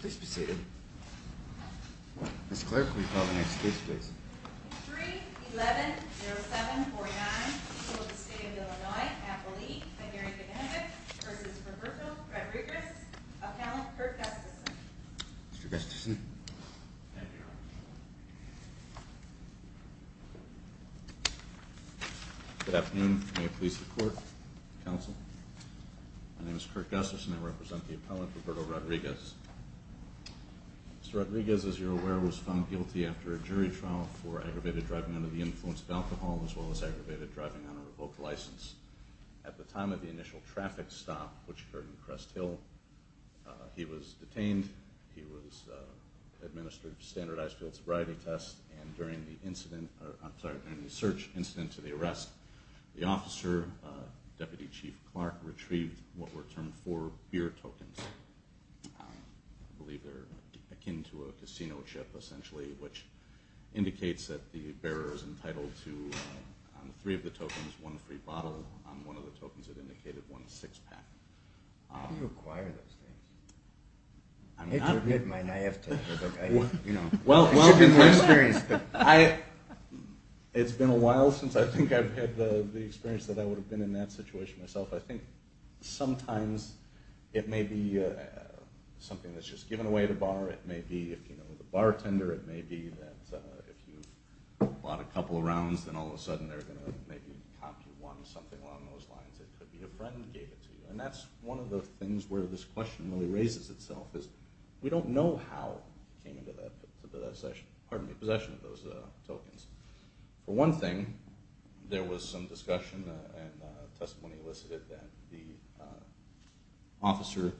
Please be seated. Ms. Clare, could we call the next case, please? 3-11-07-49, School of the State of Illinois, Appalachia, Benary Connecticut v. Roberto Rodriguez, Appellant Kurt Gustafson. Mr. Gustafson. Thank you, Your Honor. Good afternoon. May it please the Court, Counsel. My name is Kurt Gustafson. I represent the appellant, Roberto Rodriguez. Mr. Rodriguez, as you're aware, was found guilty after a jury trial for aggravated driving under the influence of alcohol, as well as aggravated driving on a revoked license. At the time of the initial traffic stop, which occurred in Crest Hill, he was detained. He was administered standardized field sobriety tests, and during the search incident to the arrest, the officer, Deputy Chief Clark, retrieved what were termed four beer tokens. I believe they're akin to a casino chip, essentially, which indicates that the bearer is entitled to, on three of the tokens, one free bottle. On one of the tokens, it indicated one six-pack. How do you acquire those things? I have to admit my naivety. I've been more experienced. It's been a while since I think I've had the experience that I would have been in that situation myself. I think sometimes it may be something that's just given away at a bar. It may be, if you know the bartender, it may be that if you've bought a couple of rounds, then all of a sudden they're going to maybe cop you one, something along those lines. It could be a friend gave it to you. And that's one of the things where this question really raises itself, because we don't know how it came into possession of those tokens. For one thing, there was some discussion and testimony elicited that the officer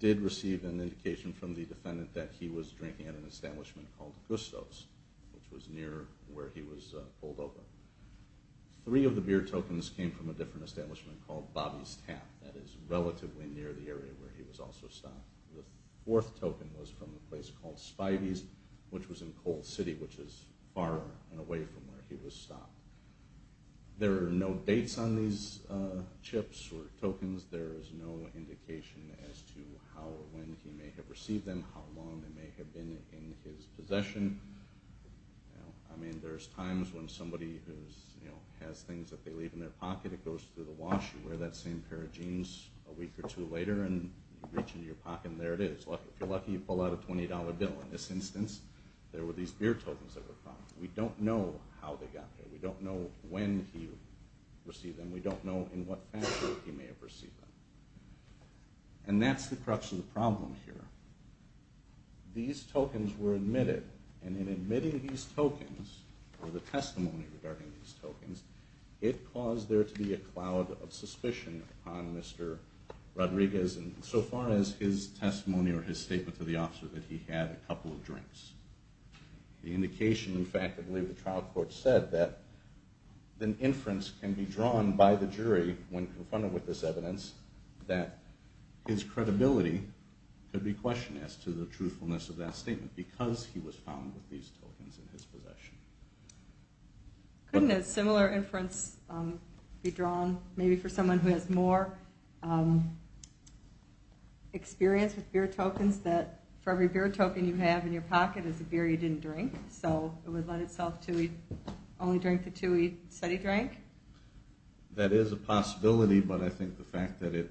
did receive an indication from the defendant that he was drinking at an establishment called Gusto's, which was near where he was pulled over. Three of the beer tokens came from a different establishment called Bobby's Tap. That is relatively near the area where he was also stopped. The fourth token was from a place called Spivey's, which was in Cold City, which is far and away from where he was stopped. There are no dates on these chips or tokens. There is no indication as to how or when he may have received them, how long they may have been in his possession. I mean, there's times when somebody has things that they leave in their pocket, it goes through the wash, you wear that same pair of jeans a week or two later, and you reach into your pocket and there it is. If you're lucky, you pull out a $20 bill. In this instance, there were these beer tokens that were found. We don't know how they got there. We don't know when he received them. We don't know in what fashion he may have received them. And that's the crux of the problem here. These tokens were admitted, and in admitting these tokens, or the testimony regarding these tokens, it caused there to be a cloud of suspicion on Mr. Rodriguez insofar as his testimony or his statement to the officer that he had a couple of drinks. The indication, in fact, I believe the trial court said that an inference can be drawn by the jury when confronted with this evidence that his credibility could be questioned as to the truthfulness of that statement because he was found with these tokens in his possession. Couldn't a similar inference be drawn maybe for someone who has more experience with beer tokens that for every beer token you have in your pocket is a beer you didn't drink? So it would lend itself to he only drank the two he said he drank? That is a possibility, but I think the fact that it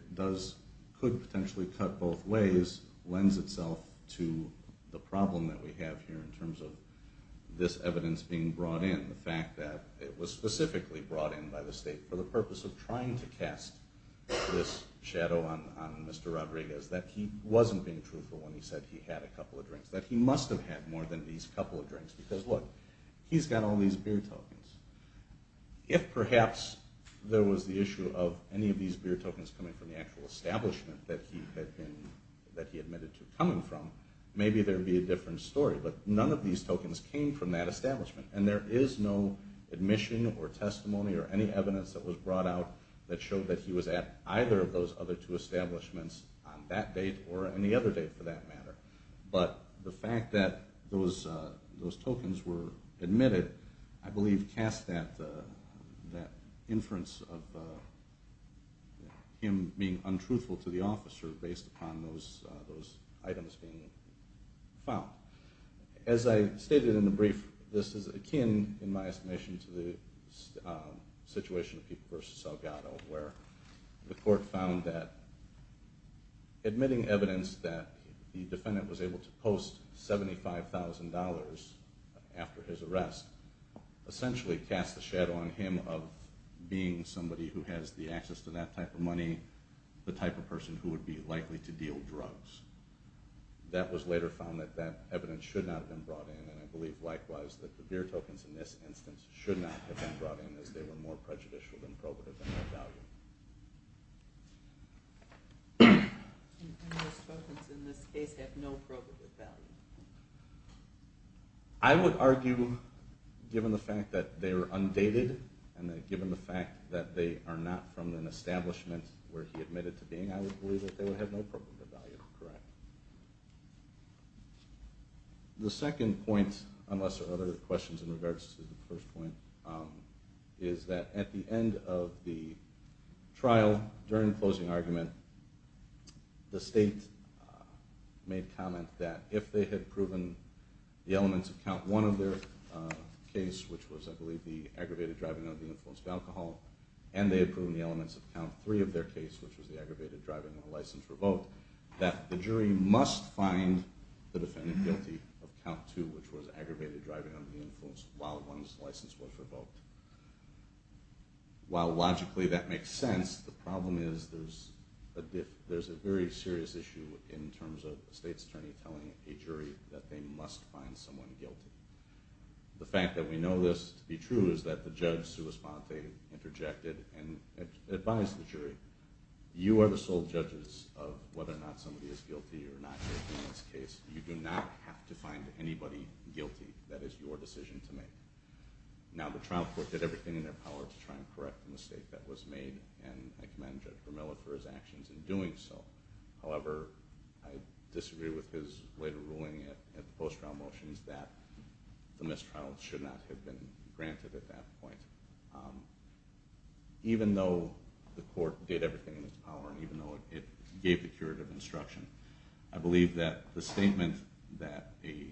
could potentially cut both ways lends itself to the problem that we have here in terms of this evidence being brought in, the fact that it was specifically brought in by the state for the purpose of trying to cast this shadow on Mr. Rodriguez that he wasn't being truthful when he said he had a couple of drinks, that he must have had more than these couple of drinks because, look, he's got all these beer tokens. If perhaps there was the issue of any of these beer tokens coming from the actual establishment that he admitted to coming from, maybe there would be a different story. But none of these tokens came from that establishment, and there is no admission or testimony or any evidence that was brought out that showed that he was at either of those other two establishments on that date or any other date for that matter. But the fact that those tokens were admitted, I believe, should cast that inference of him being untruthful to the officer based upon those items being found. As I stated in the brief, this is akin, in my estimation, to the situation of People v. Salgado where the court found that admitting evidence that the defendant was able to post $75,000 after his arrest essentially cast a shadow on him of being somebody who has the access to that type of money, the type of person who would be likely to deal drugs. That was later found that that evidence should not have been brought in, and I believe likewise that the beer tokens in this instance should not have been brought in as they were more prejudicial than probative in their value. And those tokens in this case have no probative value? I would argue, given the fact that they were undated and given the fact that they are not from an establishment where he admitted to being, I would believe that they would have no probative value. The second point, unless there are other questions in regards to the first point, is that at the end of the trial, during the closing argument, the state made comment that if they had proven the elements of count one of their case, which was I believe the aggravated driving under the influence of alcohol, and they had proven the elements of count three of their case, which was the aggravated driving under the license revoked, that the jury must find the defendant guilty of count two, which was aggravated driving under the influence while one's license was revoked. While logically that makes sense, the problem is there's a very serious issue in terms of a state's attorney telling a jury that they must find someone guilty. The fact that we know this to be true is that the judge sui sponte interjected and advised the jury, you are the sole judges of whether or not somebody is guilty or not guilty in this case. You do not have to find anybody guilty. That is your decision to make. Now the trial court did everything in their power to try and correct the mistake that was made, and I commend Judge Vermilla for his actions in doing so. However, I disagree with his later ruling at the post-trial motions that the mistrial should not have been granted at that point. Even though the court did everything in its power, and even though it gave the curative instruction, I believe that the statement that a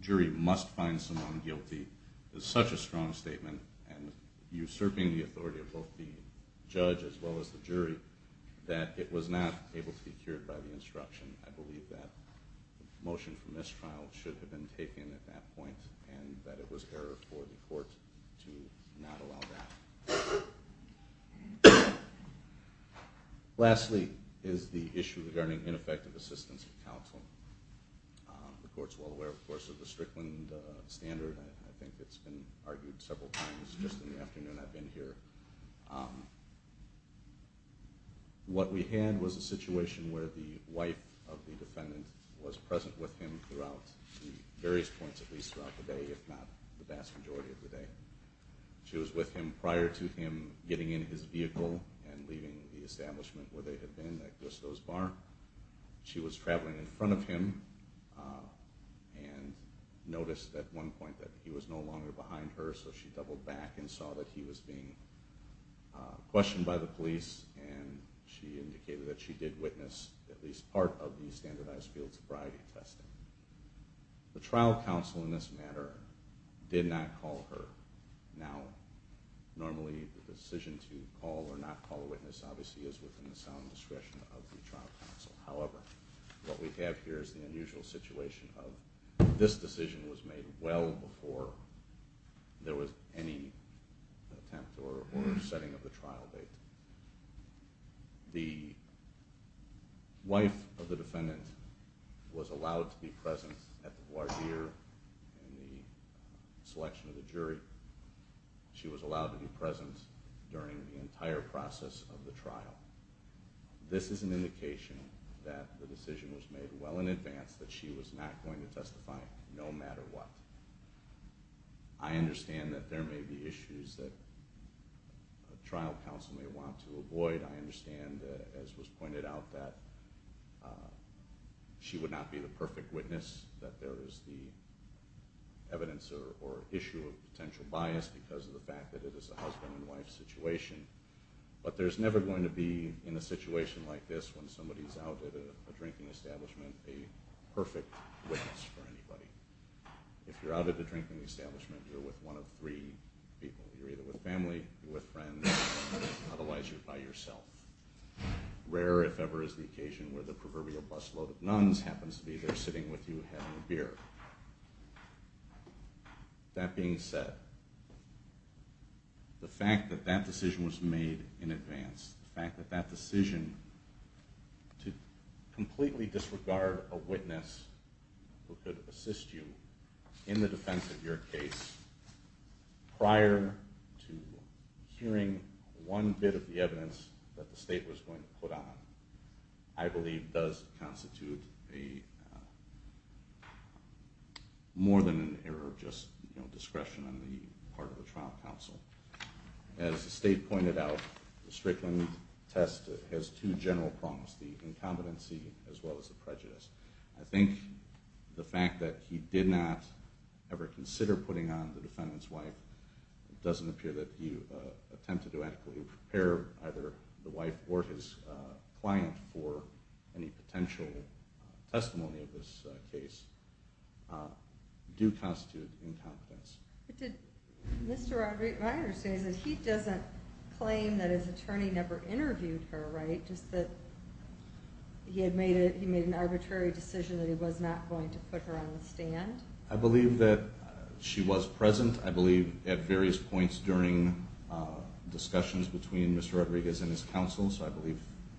jury must find someone guilty is such a strong statement and usurping the authority of both the judge as well as the jury that it was not able to be cured by the instruction. I believe that the motion for mistrial should have been taken at that point and that it was error for the court to not allow that. The court's well aware, of course, of the Strickland standard. I think it's been argued several times just in the afternoon I've been here. What we had was a situation where the wife of the defendant was present with him throughout the various points, at least throughout the day, if not the vast majority of the day. She was with him prior to him getting in his vehicle and leaving the establishment where they had been at Gristow's Bar. She was traveling in front of him and noticed at one point that he was no longer behind her, so she doubled back and saw that he was being questioned by the police and she indicated that she did witness at least part of the standardized field sobriety testing. The trial counsel in this matter did not call her. Now, normally the decision to call or not call a witness obviously is within the sound discretion of the trial counsel. However, what we have here is the unusual situation of this decision was made well before there was any attempt or setting of the trial date. The wife of the defendant was allowed to be present at the voir dire in the selection of the jury. She was allowed to be present during the entire process of the trial. This is an indication that the decision was made well in advance, that she was not going to testify no matter what. I understand that there may be issues that a trial counsel may want to avoid. I understand, as was pointed out, that she would not be the perfect witness, that there is the evidence or issue of potential bias because of the fact that it is a husband and wife situation. But there's never going to be, in a situation like this, when somebody's out at a drinking establishment, a perfect witness for anybody. If you're out at a drinking establishment, you're with one of three people. You're either with family, you're with friends, otherwise you're by yourself. Rare, if ever, is the occasion where the proverbial busload of nuns happens to be there sitting with you having a beer. That being said, the fact that that decision was made in advance, the fact that that decision to completely disregard a witness who could assist you in the defense of your case prior to hearing one bit of the evidence that the state was going to put on, I believe does constitute more than an error of just discretion on the part of a trial counsel. As the state pointed out, the Strickland test has two general problems, the incompetency as well as the prejudice. I think the fact that he did not ever consider putting on the defendant's wife it doesn't appear that he attempted to adequately prepare either the wife or his client for any potential testimony of this case, do constitute incompetence. But did Mr. Roderick Reiter say that he doesn't claim that his attorney never interviewed her, right? Just that he had made an arbitrary decision that he was not going to put her on the stand? I believe that she was present. I believe at various points during discussions between Mr. Rodriguez and his counsel, so I believe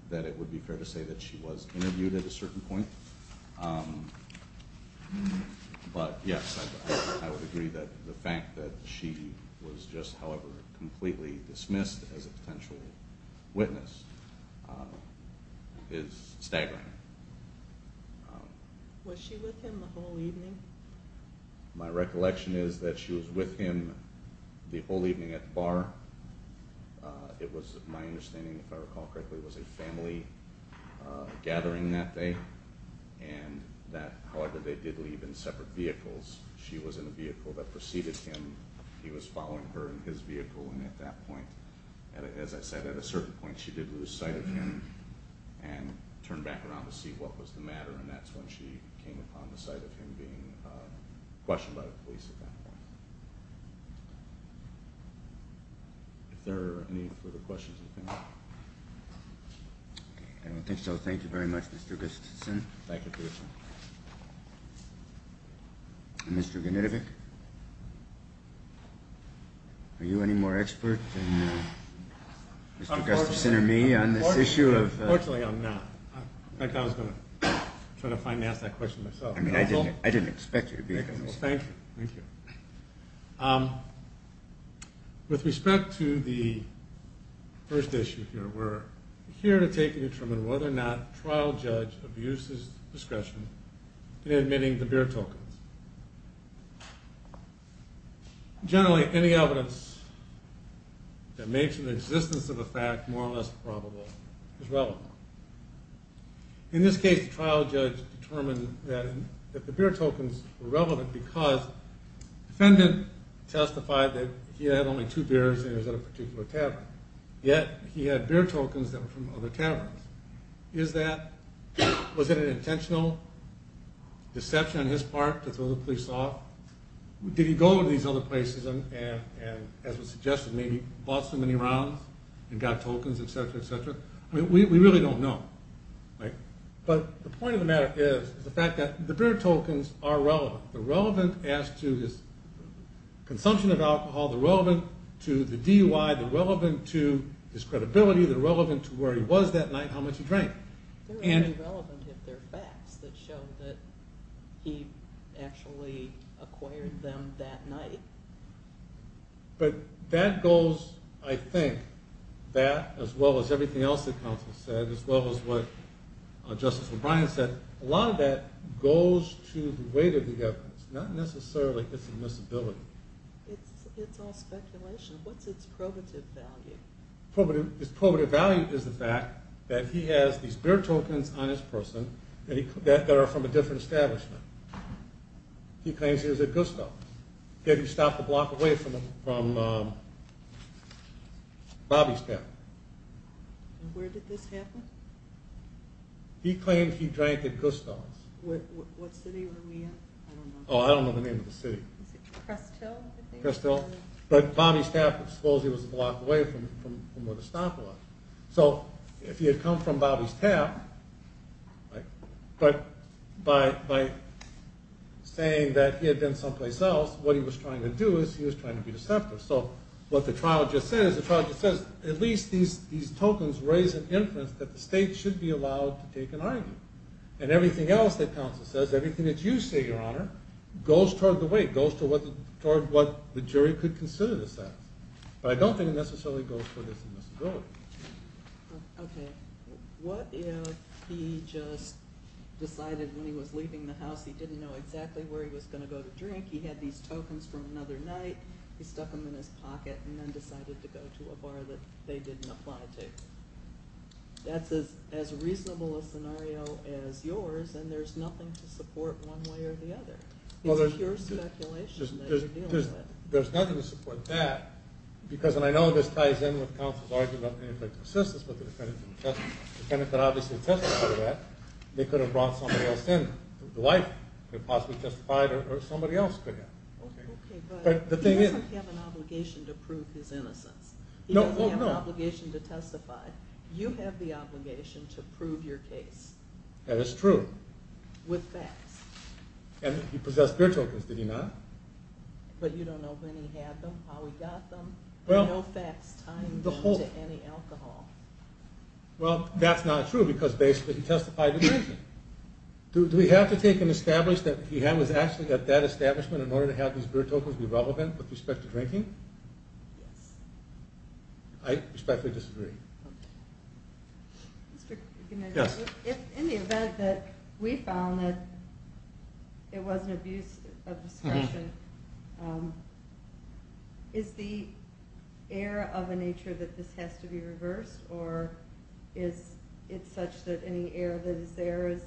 that it would be fair to say that she was interviewed at a certain point. But yes, I would agree that the fact that she was just however completely dismissed as a potential witness is staggering. Was she with him the whole evening? My recollection is that she was with him the whole evening at the bar. It was my understanding, if I recall correctly, it was a family gathering that day. However, they did leave in separate vehicles. She was in a vehicle that preceded him. He was following her in his vehicle, and at that point, as I said, at a certain point, she did lose sight of him and turned back around to see what was the matter, and that's when she came upon the sight of him being questioned by the police at that point. If there are any further questions, I think. I don't think so. Thank you very much, Mr. Gustafson. Thank you, Commissioner. Mr. Genetovic, are you any more expert than Mr. Gustafson? Mr. Gustafson or me on this issue? Unfortunately, I'm not. In fact, I was going to try to finance that question myself. I didn't expect you to be. Thank you. With respect to the first issue here, we're here to take and determine whether or not a trial judge abuses discretion in admitting the beer tokens. Generally, any evidence that makes an existence of a fact more or less probable is relevant. In this case, the trial judge determined that the beer tokens were relevant because the defendant testified that he had only two beers and he was at a particular tavern, yet he had beer tokens that were from other taverns. Was it an intentional deception on his part to throw the police off? Did he go to these other places and, as was suggested, maybe bought so many rounds and got tokens, etc., etc.? We really don't know. But the point of the matter is the fact that the beer tokens are relevant. They're relevant as to his consumption of alcohol. They're relevant to the DUI. They're relevant to his credibility. They're relevant to where he was that night, how much he drank. They're only relevant if they're facts that show that he actually acquired them that night. But that goes, I think, that, as well as everything else the counsel said, as well as what Justice O'Brien said, a lot of that goes to the weight of the evidence, not necessarily its admissibility. It's all speculation. What's its probative value? Its probative value is the fact that he has these beer tokens on his person that are from a different establishment. He claims he was at Gusto. He had to stop a block away from Bobby Stafford. Where did this happen? He claimed he drank at Gusto. What city were we in? I don't know. Oh, I don't know the name of the city. Was it Crest Hill, I think? Crest Hill. But Bobby Stafford, supposedly, was a block away from where the stop was. So if he had come from Bobby Stafford, but by saying that he had been someplace else, what he was trying to do is he was trying to be deceptive. So what the trial just said is the trial just says at least these tokens raise an inference that the state should be allowed to take an argument. And everything else that counsel says, everything that you say, Your Honor, goes toward the weight, goes toward what the jury could consider this as. But I don't think it necessarily goes toward this admissibility. Okay. What if he just decided when he was leaving the house he didn't know exactly where he was going to go to drink, he had these tokens from another night, he stuck them in his pocket, and then decided to go to a bar that they didn't apply to? That's as reasonable a scenario as yours, and there's nothing to support one way or the other. It's pure speculation that you're dealing with. There's nothing to support that, because I know this ties in with counsel's argument about the ineffectiveness of assistance, but the defendant could obviously testify to that. They could have brought somebody else in, the wife, and possibly testified, or somebody else could have. Okay, but he doesn't have an obligation to prove his innocence. He doesn't have an obligation to testify. You have the obligation to prove your case. That is true. With facts. And he possessed beer tokens, did he not? But you don't know when he had them, how he got them, and no facts tied into any alcohol. Well, that's not true, because basically he testified to drinking. Do we have to take and establish that he was actually at that establishment in order to have these beer tokens be relevant with respect to drinking? Yes. I respectfully disagree. Okay. Yes. In the event that we found that it was an abuse of discretion, is the error of a nature that this has to be reversed, or is it such that any error that is there is?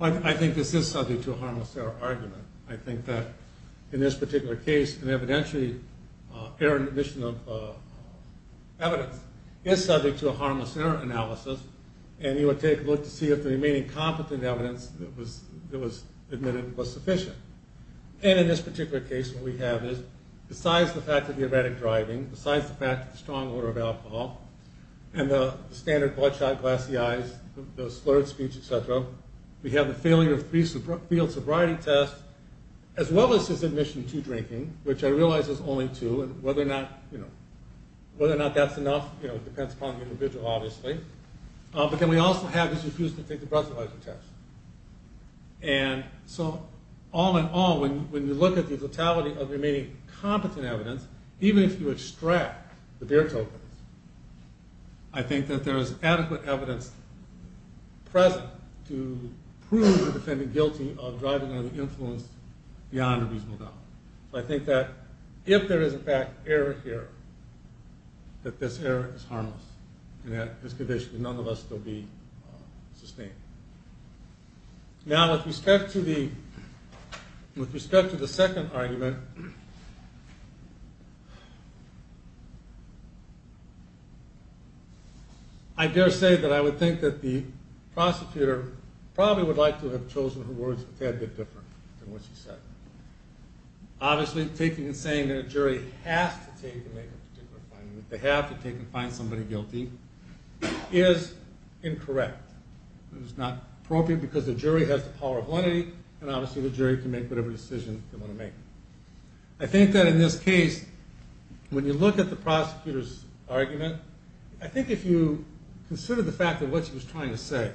I think this is subject to a harmless error argument. I think that in this particular case, an evidentiary error in the admission of evidence is subject to a harmless error analysis, and you would take a look to see if the remaining competent evidence that was admitted was sufficient. And in this particular case, what we have is, besides the fact of the erratic driving, besides the fact of the strong odor of alcohol, and the standard bloodshot glassy eyes, the slurred speech, et cetera, we have the failure of three field sobriety tests, as well as his admission to drinking, which I realize is only two, and whether or not that's enough depends upon the individual, obviously. But then we also have his refusal to take the breathalyzer test. And so, all in all, when you look at the totality of the remaining competent evidence, even if you extract the beer tokens, I think that there is adequate evidence present to prove the defendant guilty of driving under the influence beyond a reasonable doubt. So I think that if there is, in fact, error here, that this error is harmless, and that this condition would, none of us, still be sustained. Now, with respect to the second argument, I dare say that I would think that the prosecutor probably would like to have chosen her words a tad bit different than what she said. Obviously, taking and saying that a jury has to take and make a particular finding, that they have to take and find somebody guilty, is incorrect. It is not appropriate because the jury has the power of lenity, and obviously the jury can make whatever decision they want to make. I think that in this case, when you look at the prosecutor's argument, I think if you consider the fact of what she was trying to say.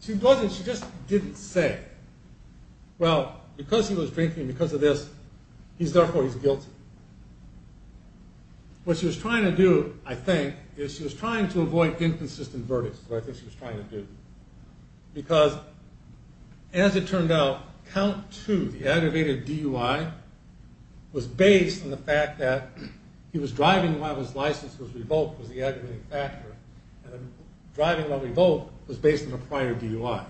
She just didn't say, well, because he was drinking and because of this, therefore he's guilty. What she was trying to do, I think, is she was trying to avoid inconsistent verdicts. That's what I think she was trying to do. Because, as it turned out, count two, the aggravated DUI, was based on the fact that he was driving while his license was revoked was the aggravating factor, and driving while revoked was based on a prior DUI.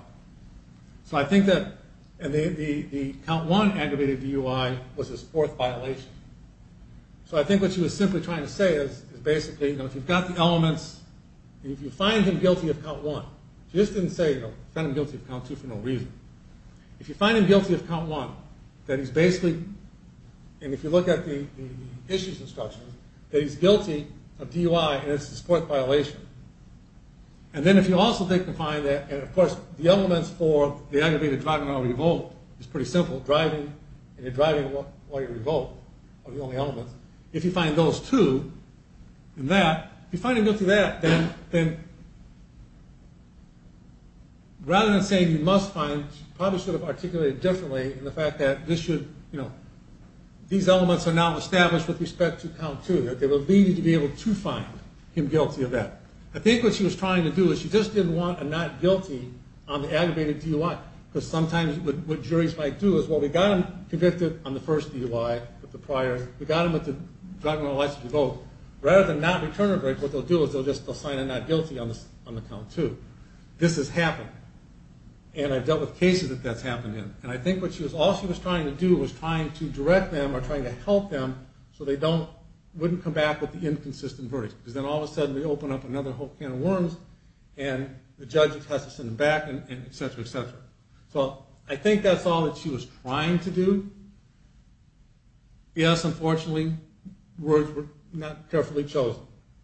So I think that the count one aggravated DUI was his fourth violation. So I think what she was simply trying to say is, basically, if you've got the elements, and if you find him guilty of count one, she just didn't say, you know, found him guilty of count two for no reason. If you find him guilty of count one, then he's basically, and if you look at the issues instructions, that he's guilty of DUI and it's his fourth violation. And then if you also think you can find that, and of course the elements for the aggravated driving while revoked is pretty simple, driving, and you're driving while you're revoked are the only elements. If you find those two, and that, if you find him guilty of that, then rather than saying you must find, she probably should have articulated it differently in the fact that this should, you know, these elements are now established with respect to count two, that they will lead you to be able to find him guilty of that. I think what she was trying to do is she just didn't want a not guilty on the aggravated DUI, because sometimes what juries might do is, well, we got him convicted on the first DUI with the prior, we got him with the driving while license revoked, rather than not return a verdict, what they'll do is they'll sign a not guilty on the count two. This has happened, and I've dealt with cases that that's happened in, and I think what she was, all she was trying to do was trying to direct them or trying to help them so they don't, wouldn't come back with the inconsistent verdict, because then all of a sudden they open up another whole can of worms and the judge has to send them back and et cetera, et cetera. So I think that's all that she was trying to do. Yes, unfortunately, words were not carefully chosen.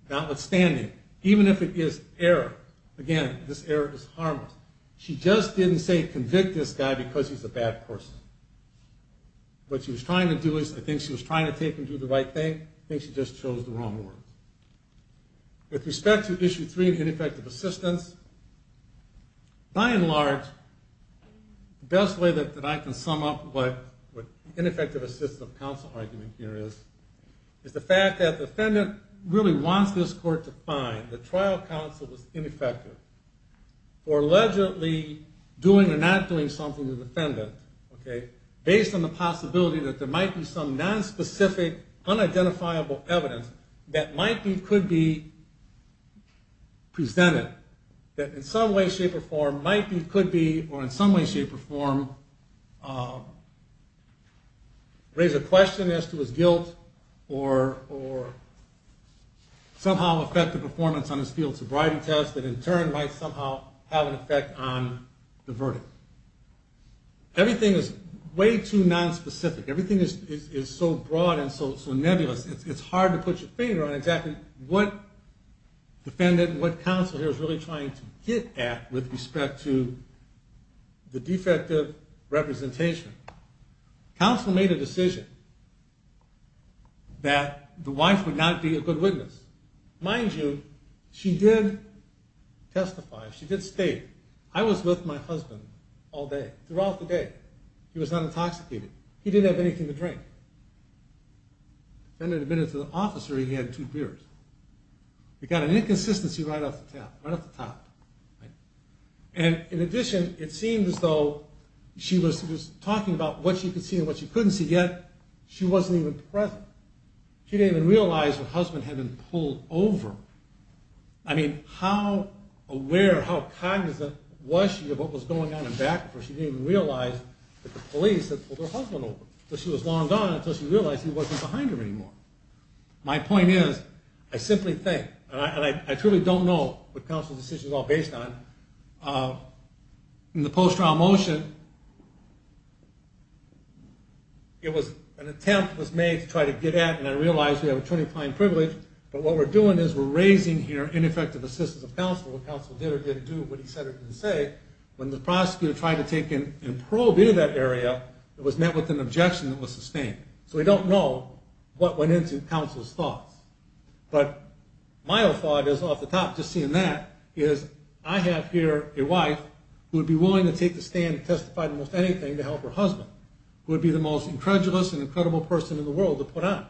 Notwithstanding, even if it is error, again, this error is harmless, she just didn't say convict this guy because he's a bad person. What she was trying to do is, I think she was trying to take and do the right thing, I think she just chose the wrong words. With respect to issue three, ineffective assistance, by and large, the best way that I can sum up what ineffective assistance of counsel argument here is, is the fact that the defendant really wants this court to find that trial counsel was ineffective for allegedly doing or not doing something to the defendant, based on the possibility that there might be some nonspecific, unidentifiable evidence that might be, could be presented, that in some way, shape, or form might be, could be, or in some way, shape, or form raise a question as to his guilt or somehow affect the performance on his field sobriety test that in turn might somehow have an effect on the verdict. Everything is way too nonspecific, everything is so broad and so nebulous, it's hard to put your finger on exactly what defendant and what counsel here is really trying to get at with respect to the defective representation. Counsel made a decision that the wife would not be a good witness. Mind you, she did testify, she did state, I was with my husband all day, throughout the day, he was not intoxicated, he didn't have anything to drink. Defendant admitted to the officer he had two beers. We got an inconsistency right off the top. And in addition, it seemed as though she was talking about what she could see and what she couldn't see, yet she wasn't even present. She didn't even realize her husband hadn't pulled over. I mean, how aware, how cognizant was she of what was going on in back of her? She didn't even realize that the police had pulled her husband over. So she was long gone until she realized he wasn't behind her anymore. My point is, I simply think, and I truly don't know what counsel's decision is all based on, in the post-trial motion, it was an attempt was made to try to get at, and I realize we have attorney-applying privilege, but what we're doing is we're raising here ineffective assistance of counsel, what counsel did or didn't do, what he said or didn't say, when the prosecutor tried to take and probe into that area, it was met with an objection that was sustained. So we don't know what went into counsel's thoughts. But my thought is, off the top, just seeing that, is I have here a wife who would be willing to take the stand and testify to most anything to help her husband, who would be the most incredulous and incredible person in the world to put on.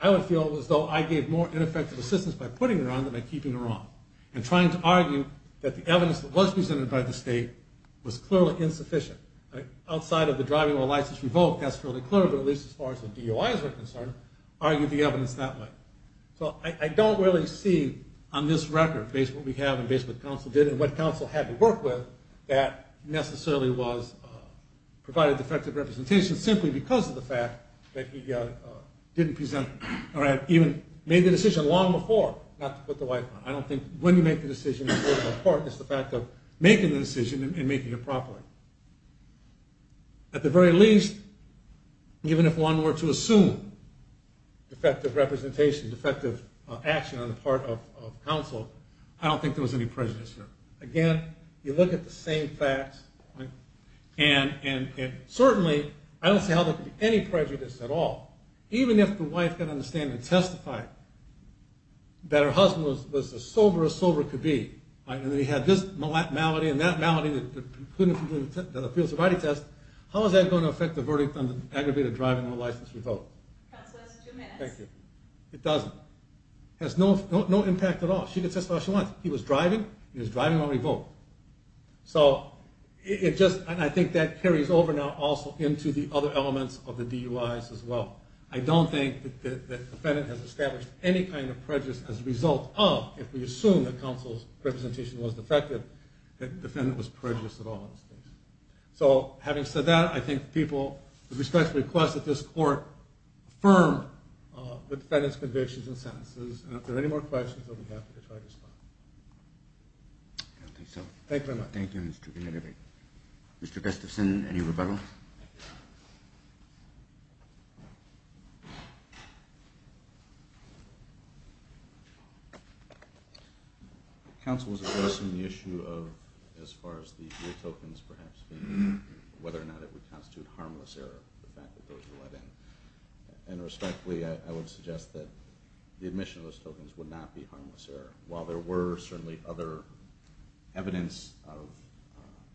I would feel as though I gave more ineffective assistance by putting her on than by keeping her on. And trying to argue that the evidence that was presented by the state was clearly insufficient. Outside of the driving while license revoked, that's fairly clear, but at least as far as the DOI is concerned, argue the evidence that way. So I don't really see on this record, based on what we have and based on what counsel did and what counsel had to work with, that necessarily provided defective representation simply because of the fact that he didn't present, or had even made the decision long before not to put the wife on. I don't think when you make the decision, it's the fact of making the decision and making it properly. At the very least, even if one were to assume defective representation, defective action on the part of counsel, I don't think there was any prejudice here. Again, you look at the same facts, and certainly, I don't see how there could be any prejudice at all. Even if the wife could understand and testify that her husband was as sober as sober could be, and that he had this malady and that malady that precluded him from doing the field sobriety test, how is that going to affect the verdict on the aggravated driving while license revoked? It doesn't. It has no impact at all. She can testify all she wants. He was driving, and he was driving while revoked. I think that carries over now also into the other elements of the DUIs as well. I don't think that the defendant has established any kind of prejudice as a result of, if we assume that counsel's representation was defective, that the defendant was prejudiced at all in this case. So, having said that, I think people, with respect to the request that this court affirm the defendant's convictions and sentences, and if there are any more questions, I'll be happy to try to respond. Thank you very much. Thank you, Mr. Kennedy. Mr. Gustafson, any rebuttals? Counsel was addressing the issue of, as far as the real tokens, perhaps, whether or not it would constitute harmless error, the fact that those were let in, and respectfully, I would suggest that the admission of those tokens would not be harmless error. While there were certainly other evidence of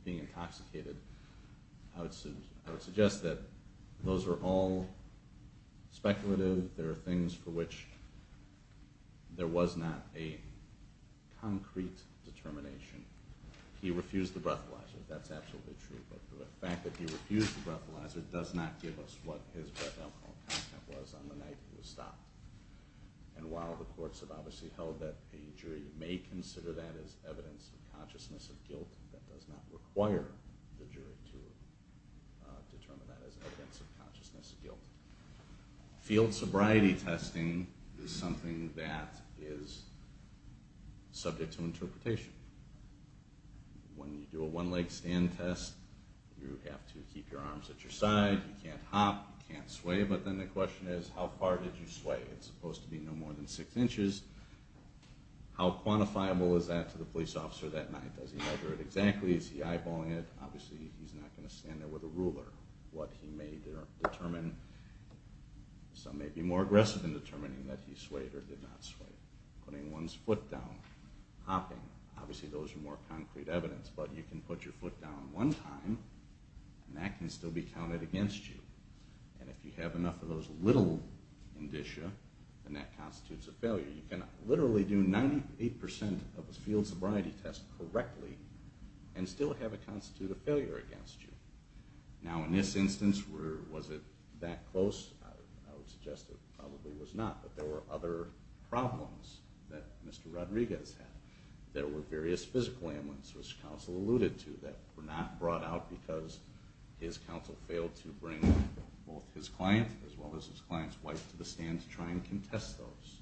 being intoxicated, I would suggest that those are all speculative, there are things for which there was not a concrete determination. He refused the breathalyzer, that's absolutely true, but the fact that he refused the breathalyzer does not give us what his breath alcohol content was on the night he was stopped. And while the courts have obviously held that the jury may consider that as evidence of consciousness of guilt, that does not require the jury to consider that as evidence of consciousness of guilt. Field sobriety testing is something that is subject to interpretation. When you do a one-leg stand test, you have to keep your arms at your side, you can't hop, you can't sway, but then the question is, how far did you sway? It's supposed to be no more than six inches. How quantifiable is that to the police officer that night? Does he measure it exactly? Is he eyeballing it? Obviously he's not going to stand there with a ruler. Some may be more aggressive in determining that he swayed or did not sway. Putting one's foot down, hopping, obviously those are more concrete evidence, but you can put your foot down one time, and that can still be counted against you. And if you have enough of those little indicia, then that constitutes a failure. You can literally do 98% of a field sobriety test correctly and still have it constitute a failure against you. Now in this instance, was it that close? I would suggest it probably was not, but there were other problems that Mr. Rodriguez had. There were various physical ailments, which counsel alluded to, that were not brought out because his counsel failed to bring both his client as well as his client's wife to the stand to try and contest those.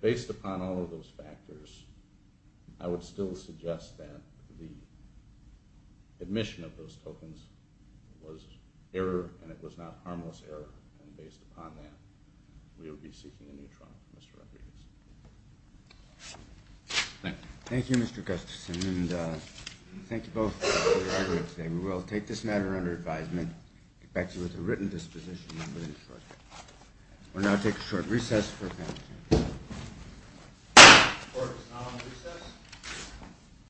Based upon all of those factors, I would still suggest that the admission of those tokens was error, and it was not harmless error, and based upon that, we would be seeking a new trial for Mr. Rodriguez. Thank you. Thank you, Mr. Gustafson, and thank you both for your hard work today. We will take this matter under advisement and get back to you with a written disposition within the short term. We will now take a short recess.